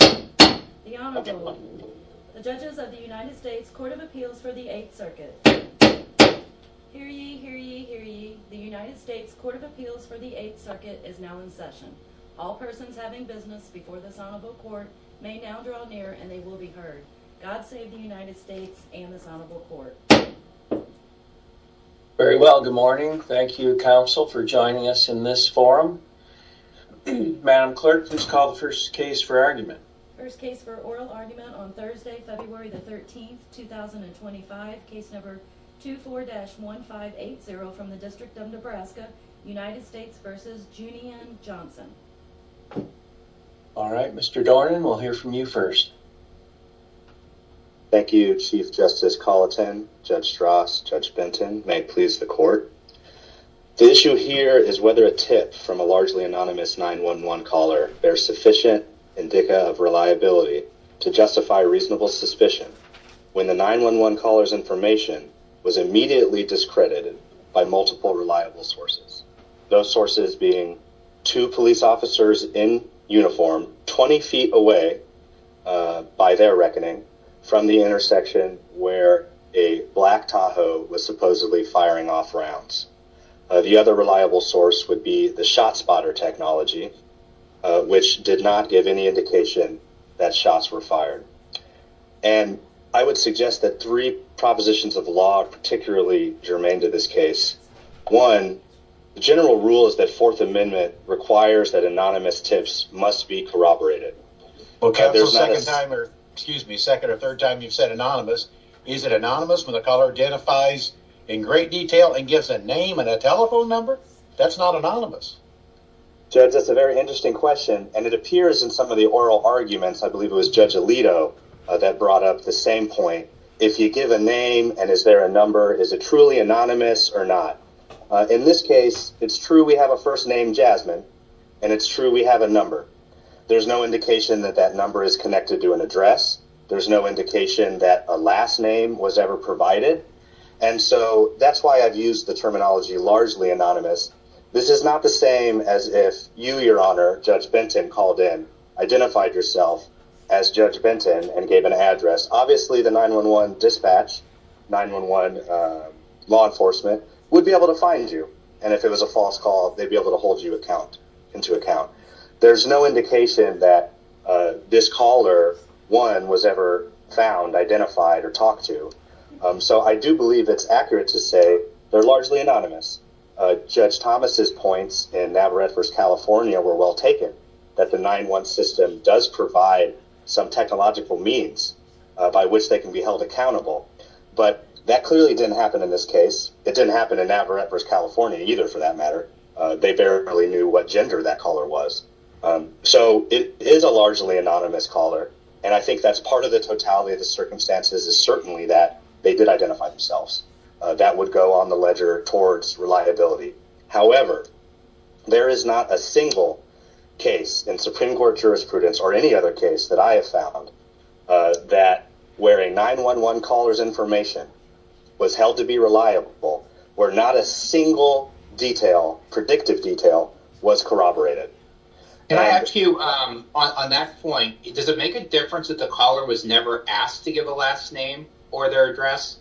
The Honorable, the Judges of the United States Court of Appeals for the Eighth Circuit. Hear ye, hear ye, hear ye, the United States Court of Appeals for the Eighth Circuit is now in session. All persons having business before this Honorable Court may now draw near and they will be heard. God save the United States and this Honorable Court. Very well, good morning. Thank you, Council, for joining us in this forum. Madam Clerk, please call the first case for argument. First case for oral argument on Thursday, February the 13th, 2025, case number 24-1580 from the District of Nebraska, United States v. Junian Johnson. All right, Mr. Dornan, we'll hear from you first. Thank you, Chief Justice Colleton, Judge Strass, Judge Benton. May it please the Court. The issue here is whether a tip from a largely deficient indica of reliability to justify reasonable suspicion when the 911 caller's information was immediately discredited by multiple reliable sources. Those sources being two police officers in uniform 20 feet away by their reckoning from the intersection where a black Tahoe was supposedly firing off rounds. The other reliable source would be the spotter technology, which did not give any indication that shots were fired. And I would suggest that three propositions of law are particularly germane to this case. One, the general rule is that Fourth Amendment requires that anonymous tips must be corroborated. Well, Council, second time or, excuse me, second or third time you've said anonymous, is it anonymous when the caller identifies in great detail and gives a name and a telephone number? That's not anonymous. Judge, that's a very interesting question, and it appears in some of the oral arguments, I believe it was Judge Alito that brought up the same point. If you give a name and is there a number, is it truly anonymous or not? In this case, it's true we have a first name, Jasmine, and it's true we have a number. There's no indication that that number is connected to an address. There's no indication that a last name was ever provided, and so that's why I've used the terminology largely anonymous. This is not the same as if you, Your Honor, Judge Benton, called in, identified yourself as Judge Benton, and gave an address. Obviously, the 911 dispatch, 911 law enforcement, would be able to find you, and if it was a false call, they'd be able to hold you into account. There's no indication that this caller, one, was ever found, identified, or talked to, so I do believe it's accurate to say they're largely anonymous. Judge Thomas' points in Navarrete v. California were well taken, that the 911 system does provide some technological means by which they can be held accountable, but that clearly didn't happen in this case. It didn't happen in Navarrete v. California either, for that matter. They barely knew what gender that caller was, so it is a largely anonymous caller, and I think that's part of the totality of the circumstances is certainly that they did identify themselves. That would go on the ledger towards reliability. However, there is not a single case in Supreme Court jurisprudence, or any other case that I have found, that where a 911 caller's information was held to be reliable, where not a single detail, predictive detail, was corroborated. Can I ask you, on that point, does it make a difference that the caller was never asked to give a last name or their address?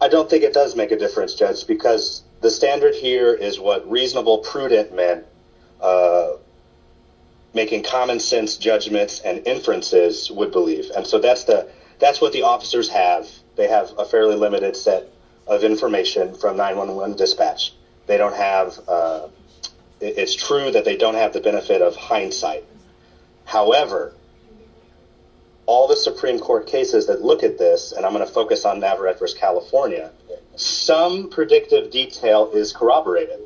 I don't think it does make a difference, Judge, because the standard here is what reasonable, prudent men, making common sense judgments and inferences, would believe, and so that's what the officers have. They have a fairly limited set of information from 911 dispatch. It's true that they don't have the benefit of hindsight. However, all the Supreme Court cases that look at this, and I'm going to focus on Navarrete v. California, some predictive detail is corroborated.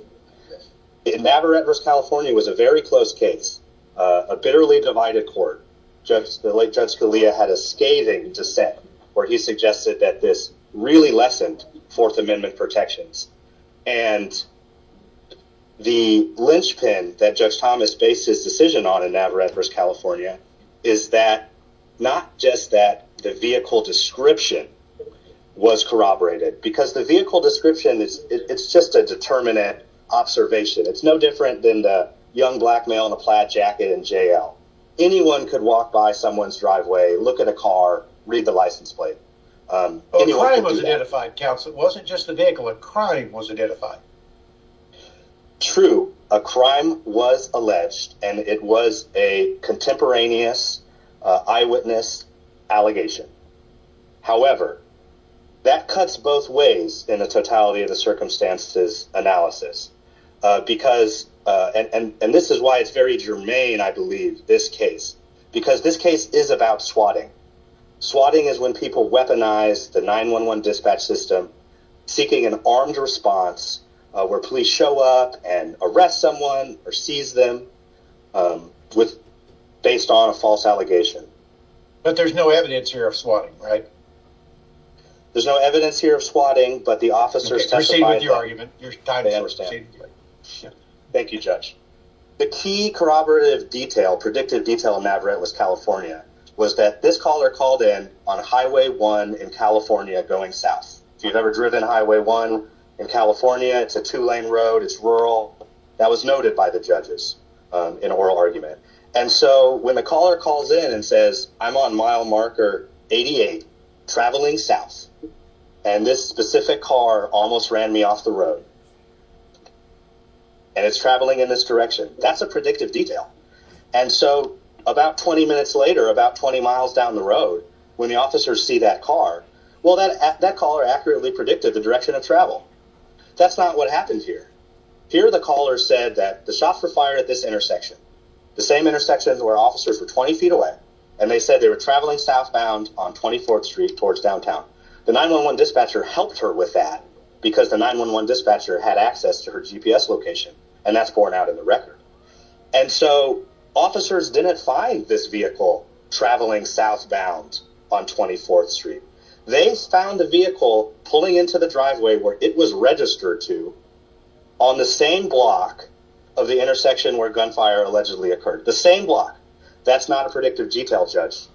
Navarrete v. California was a very close case, a bitterly divided court. Judge Scalia had a scathing dissent, where he suggested that this really lessened Fourth Amendment protections, and the linchpin that Judge Thomas based his decision on in Navarrete v. California is that not just that the vehicle description was corroborated, because the vehicle description is just a permanent observation. It's no different than the young black male in a plaid jacket in J.L. Anyone could walk by someone's driveway, look at a car, read the license plate. A crime was identified, counsel. It wasn't just the vehicle. A crime was identified. True. A crime was alleged, and it was a contemporaneous eyewitness allegation. However, that cuts both ways in the totality of the circumstances analysis, and this is why it's very germane, I believe, this case, because this case is about swatting. Swatting is when people weaponize the 911 dispatch system, seeking an armed response where police show up and arrest someone or seize them based on a false allegation. But there's no evidence here of swatting, right? There's no evidence here of swatting, but the officers... Proceed with your argument. Your time is over, Stan. Thank you, Judge. The key corroborative detail, predictive detail in Navarrete was California, was that this caller called in on Highway 1 in California going south. If you've ever driven Highway 1 in California, it's a two-lane road, it's rural. That was noted by the judges in oral argument. And so when the caller calls in and says, I'm on mile marker 88, traveling south, and this specific car almost ran me off the road, and it's traveling in this direction, that's a predictive detail. And so about 20 minutes later, about 20 miles down the road, when the officers see that car, well, that caller accurately predicted the direction of travel. That's not what happened here. Here, the caller said that the shots were fired at this intersection, the same intersection where officers were 20 feet away, and they said they were traveling southbound on 24th Street towards downtown. The 911 dispatcher helped her with that because the 911 dispatcher had access to her GPS location, and that's borne out in the record. And so officers didn't find this vehicle traveling southbound on 24th Street. They found the vehicle pulling into the driveway where it was registered to on the same block of the intersection where gunfire allegedly occurred. The same block. That's not a predictive detail, Judge.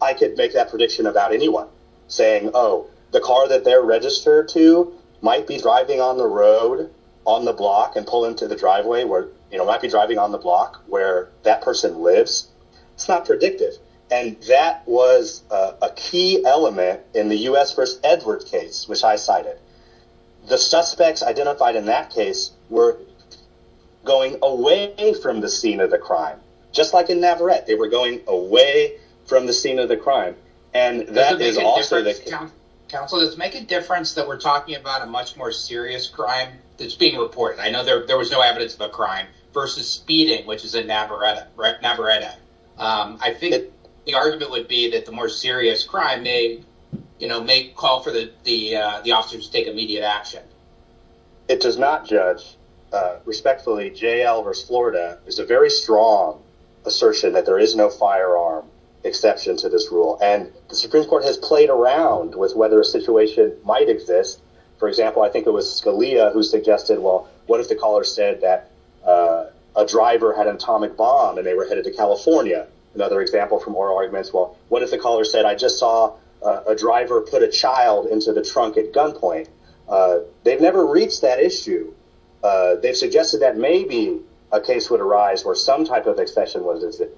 I could make that prediction about anyone saying, oh, the car that they're registered to might be driving on the road, on the block, and pull into the driveway where, you know, might be driving on the block where that person lives. It's not predictive. And that was a key element in the U.S. v. Edwards case, which I cited. The suspects identified in that case were going away from the scene of the crime, just like in Navarrete. They were going away from the scene of the crime, and that is also the... Does it make a difference, counsel? Does it make a difference that we're talking about a much more serious crime that's being reported? I know there was no evidence of a crime versus speeding, which is in Navarrete. I think the argument would be that the more serious crime may call for the officers to take immediate action. It does not, Judge. Respectfully, J.L. v. Florida is a very strong assertion that there is no firearm exception to this rule, and the Supreme Court has played around with whether a situation might exist. For example, I think it was Scalia who suggested, well, what if the caller said that a driver had an atomic bomb and they were headed to California? Another example, what if a driver put a child into the trunk at gunpoint? They've never reached that issue. They've suggested that maybe a case would arise where some type of exception would exist,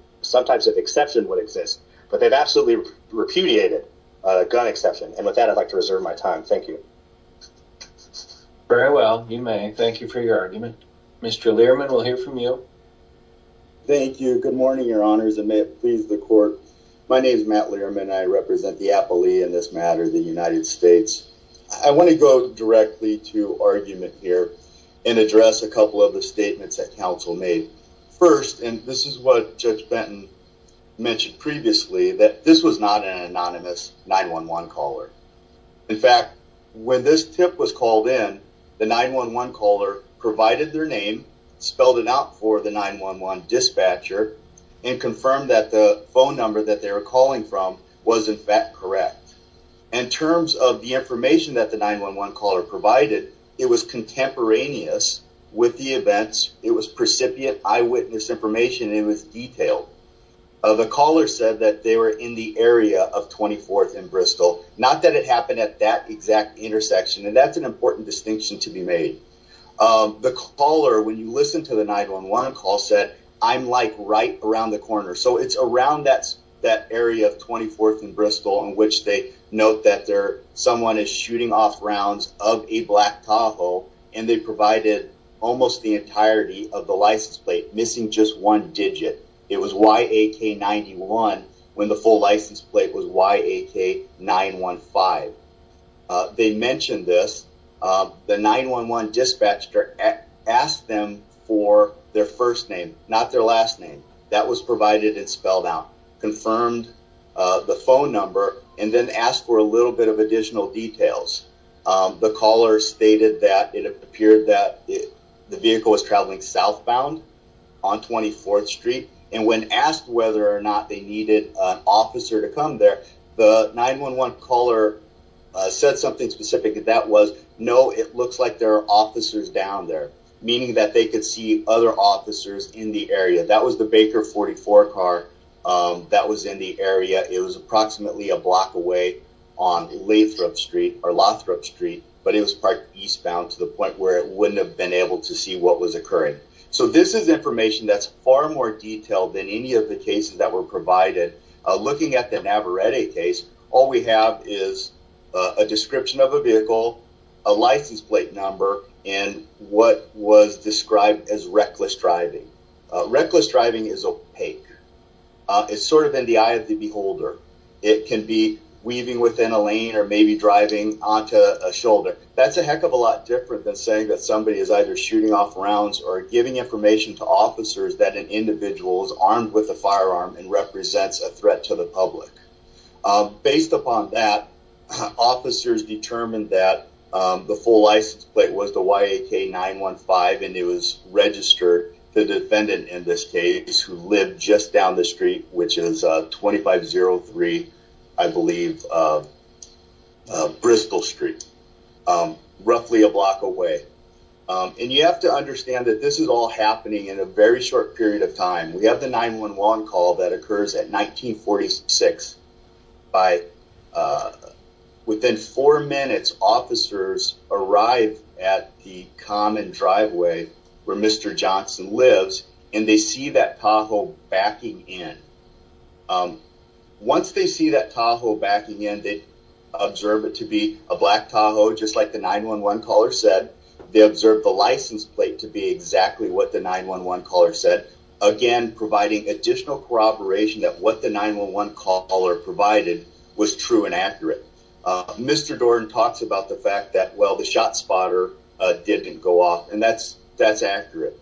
but they've absolutely repudiated gun exception. And with that, I'd like to reserve my time. Thank you. Very well. You may. Thank you for your argument. Mr. Learman, we'll hear from you. Thank you. Good morning, Your Honors, and may it please the Court. My name is Matt Learman. I represent the appellee in this matter, the United States. I want to go directly to argument here and address a couple of the statements that counsel made. First, and this is what Judge Benton mentioned previously, that this was not an anonymous 911 caller. In fact, when this tip was called in, the 911 caller provided their name, spelled it out for the 911 dispatcher and confirmed that the phone number that they were calling from was, in fact, correct. In terms of the information that the 911 caller provided, it was contemporaneous with the events. It was precipient eyewitness information. It was detailed. The caller said that they were in the area of 24th and Bristol, not that it happened at that exact intersection, and that's an important distinction to be made. The caller, when you listen to the 911 call, said, I'm like right around the corner. So it's around that area of 24th and Bristol in which they note that someone is shooting off rounds of a black Tahoe, and they provided almost the entirety of the license plate, missing just one digit. It was YAK91 when the full license plate was YAK915. They mentioned this. The 911 dispatcher asked them for their first name, not their last name. That was provided and spelled out, confirmed the phone number, and then asked for a little bit of additional details. The caller stated that it appeared that the vehicle was traveling southbound on 24th Street, and when asked whether or not they needed an officer to come there, the 911 caller said something specific, and that was, no, it looks like there are officers down there, meaning that they could see other officers in the area. That was the Baker 44 car that was in the area. It was approximately a block away on Lathrop Street, but it was parked eastbound to the point where it wouldn't have been able to see what was occurring. So this is information that's far more detailed than any of the cases that were at a case. All we have is a description of a vehicle, a license plate number, and what was described as reckless driving. Reckless driving is opaque. It's sort of in the eye of the beholder. It can be weaving within a lane or maybe driving onto a shoulder. That's a heck of a lot different than saying that somebody is either shooting off rounds or giving information to officers that an individual is armed with a firearm and represents a threat to the public. Based upon that, officers determined that the full license plate was the YAK-915, and it was registered to the defendant in this case who lived just down the street, which is 2503, I believe, Bristol Street, roughly a block away. And you have to understand that this is all happening in a very short period of time. We have the 911 call that occurs at 1946. Within four minutes, officers arrive at the common driveway where Mr. Johnson lives, and they see that Tahoe backing in. Once they see that Tahoe backing in, they observe it to be a black Tahoe, just like the 911 caller said. They observe the license plate to be exactly what the 911 caller said, again providing additional corroboration that what the 911 caller provided was true and accurate. Mr. Dorn talks about the fact that, well, the shot spotter didn't go off, and that's accurate.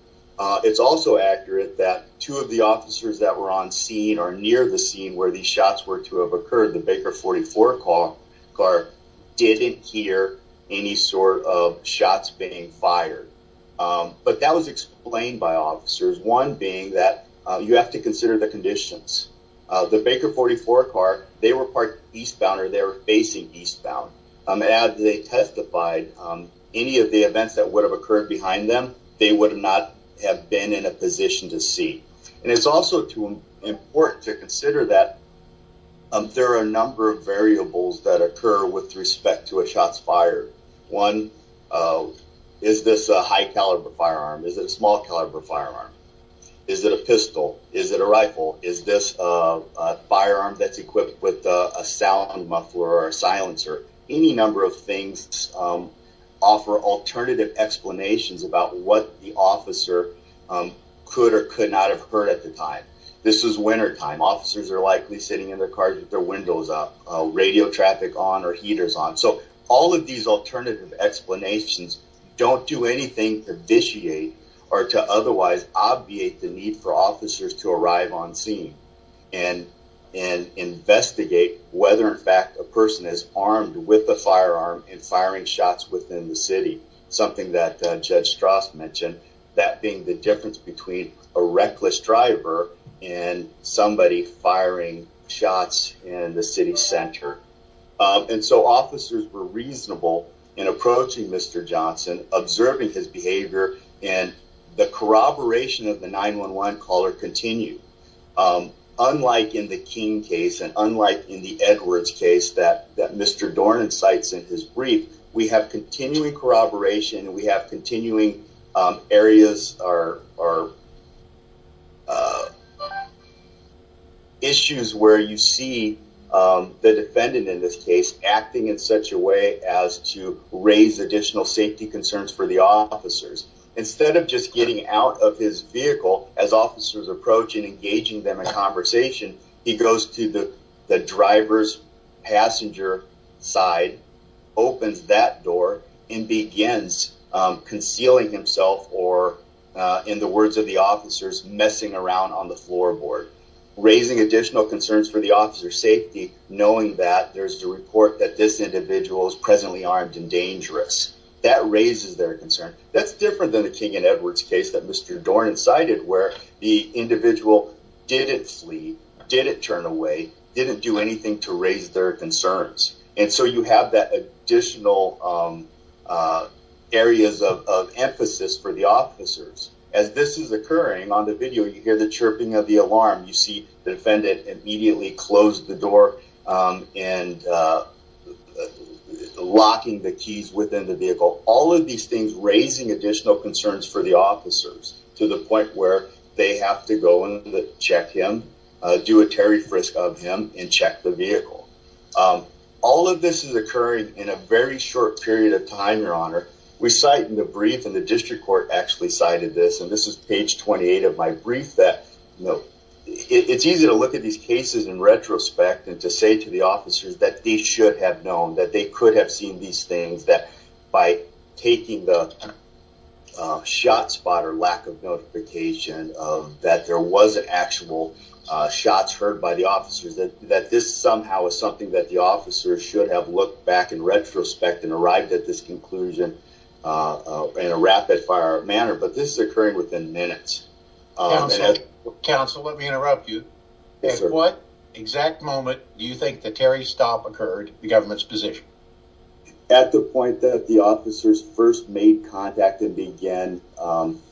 It's also accurate that two of the officers that were on scene or near the scene where these shots were to have occurred, the Baker 44 car, didn't hear any sort of shots being fired. But that was explained by officers, one being that you have to consider the conditions. The Baker 44 car, they were eastbound, or they were facing eastbound. Had they testified any of the events that would have occurred behind them, they would not have been in a position to see. And it's also important to consider that there are a number of variables that occur with respect to a shot's fire. One, is this a high caliber firearm? Is it a small caliber firearm? Is it a pistol? Is it a rifle? Is this a firearm that's equipped with a sound muffler or a silencer? Any number of things offer alternative explanations about what the officer could or could not have heard at the time. This is wintertime. Officers are likely sitting in their cars with their windows up, radio traffic on or heaters on. So all of these alternative explanations don't do anything to vitiate or to otherwise obviate the need for officers to arrive on scene and investigate whether, in fact, a person is armed with a firearm and firing shots within the city, something that Judge Strauss mentioned, that being the difference between a reckless driver and somebody firing shots in the city center. And so officers were reasonable in approaching Mr. Johnson, observing his behavior, and the corroboration of the 911 caller continued. Unlike in the King case and unlike in the Edwards case that Mr. Dornan cites in his brief, we have continuing corroboration and we have continuing areas or issues where you see the defendant in this case acting in such a way as to raise additional safety concerns for the officers. Instead of just getting out of his vehicle as officers approach and engaging them in conversation, he goes to the driver's passenger side, opens that door, and begins concealing himself or, in the words of the officers, messing around on the floorboard, raising additional concerns for the officer's safety, knowing that there's a report that this individual is presently armed and dangerous. That raises their concern. That's different than the King and Edwards case that Mr. Dornan cited where the individual didn't flee, didn't turn away, didn't do anything to raise their concerns. And so you have that additional areas of emphasis for the officers. As this is occurring on the video, you hear the chirping of the alarm. You see the defendant immediately close the door and locking the keys within the vehicle. All of these things raising additional concerns for the officers to the point where they have to go in to check him, do a terry frisk of him, and check the vehicle. All of this is occurring in a very short period of time, Your Honor. We cite in the brief, and the district court actually cited this, and this is page 28 of my brief, that it's easy to look at these cases in retrospect and to say to the officers that they should have known that they could have seen these things, that by taking the shot spot or lack of notification that there wasn't actual shots heard by the officers, that this somehow is something that the officers should have looked back in retrospect and arrived at this conclusion in a rapid fire manner. But this is occurring within minutes. Counsel, let me interrupt you. At what exact moment do you think the terry stop occurred, the government's position? At the point that the officers first made contact and began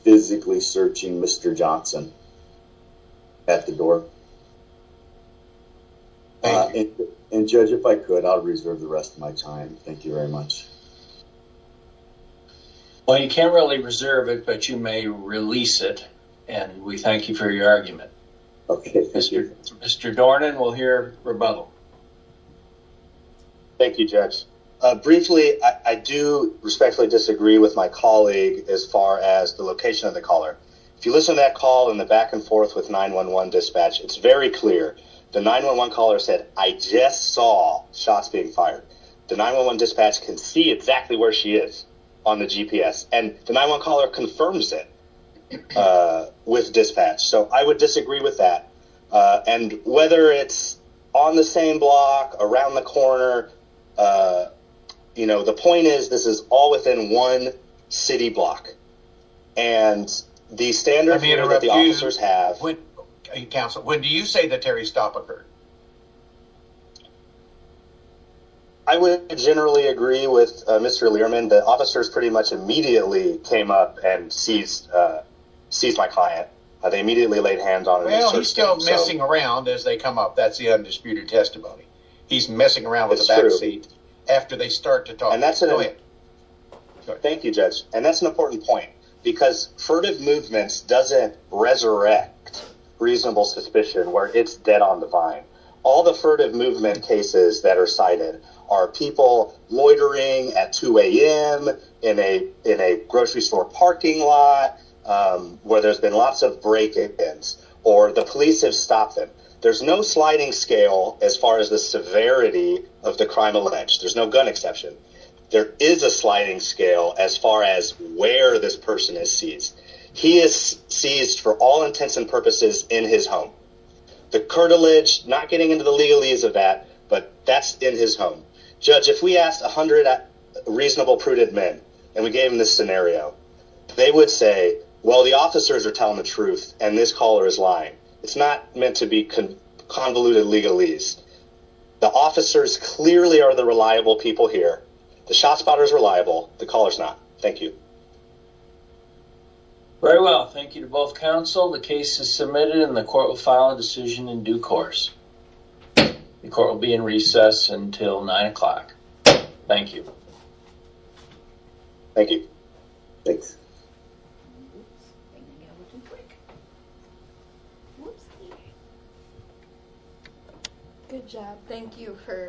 physically searching Mr. Johnson at the door. And Judge, if I could, I'll reserve the rest of my time. Thank you very much. Well, you can't really reserve it, but you may release it, and we thank you for your argument. Mr. Dornan, we'll hear rebuttal. Thank you, Judge. Briefly, I do respectfully disagree with my colleague as far as the location of the caller. If you listen to that call and the back and forth with 911 dispatch, it's very clear. The 911 caller said, I just saw shots being fired. The 911 dispatch can see exactly where she is on the GPS and the 911 caller confirms it with dispatch. So I would disagree with that. And whether it's on the same block around the corner, you know, the point is, this is all within one city block. And the standard that the officers have... Counsel, when do you say the Terry stop occurred? I would generally agree with Mr. Learman. The officers pretty much immediately came up and seized my client. They immediately laid hands on him. Well, he's still messing around as they come up. That's the undisputed testimony. He's messing around with the back seat after they start to talk. Thank you, Judge. And that's an important point because furtive movements doesn't resurrect reasonable suspicion where it's dead on the vine. All the furtive movement cases that are cited are people loitering at 2 a.m. in a grocery store parking lot where there's been lots of break-ins or the police have stopped them. There's no sliding scale as far as the severity of the crime alleged. There's no gun exception. There is a sliding scale as far as where this person is seized. He is seized for all intents and purposes in his home. The curtilage, not getting into the legalese of that, but that's in his home. Judge, if we asked 100 reasonable, prudent men and we gave them this scenario, they would say, well, the officers are telling the truth and this caller is lying. It's not meant to be convoluted legalese. The officers clearly are the reliable people here. The shot spotter is reliable. The caller is not. Thank you. Very well. Thank you to both counsel. The case is submitted and the court will file a decision in due course. The court will be in recess until 9 o'clock. Thank you. Thank you. Thanks.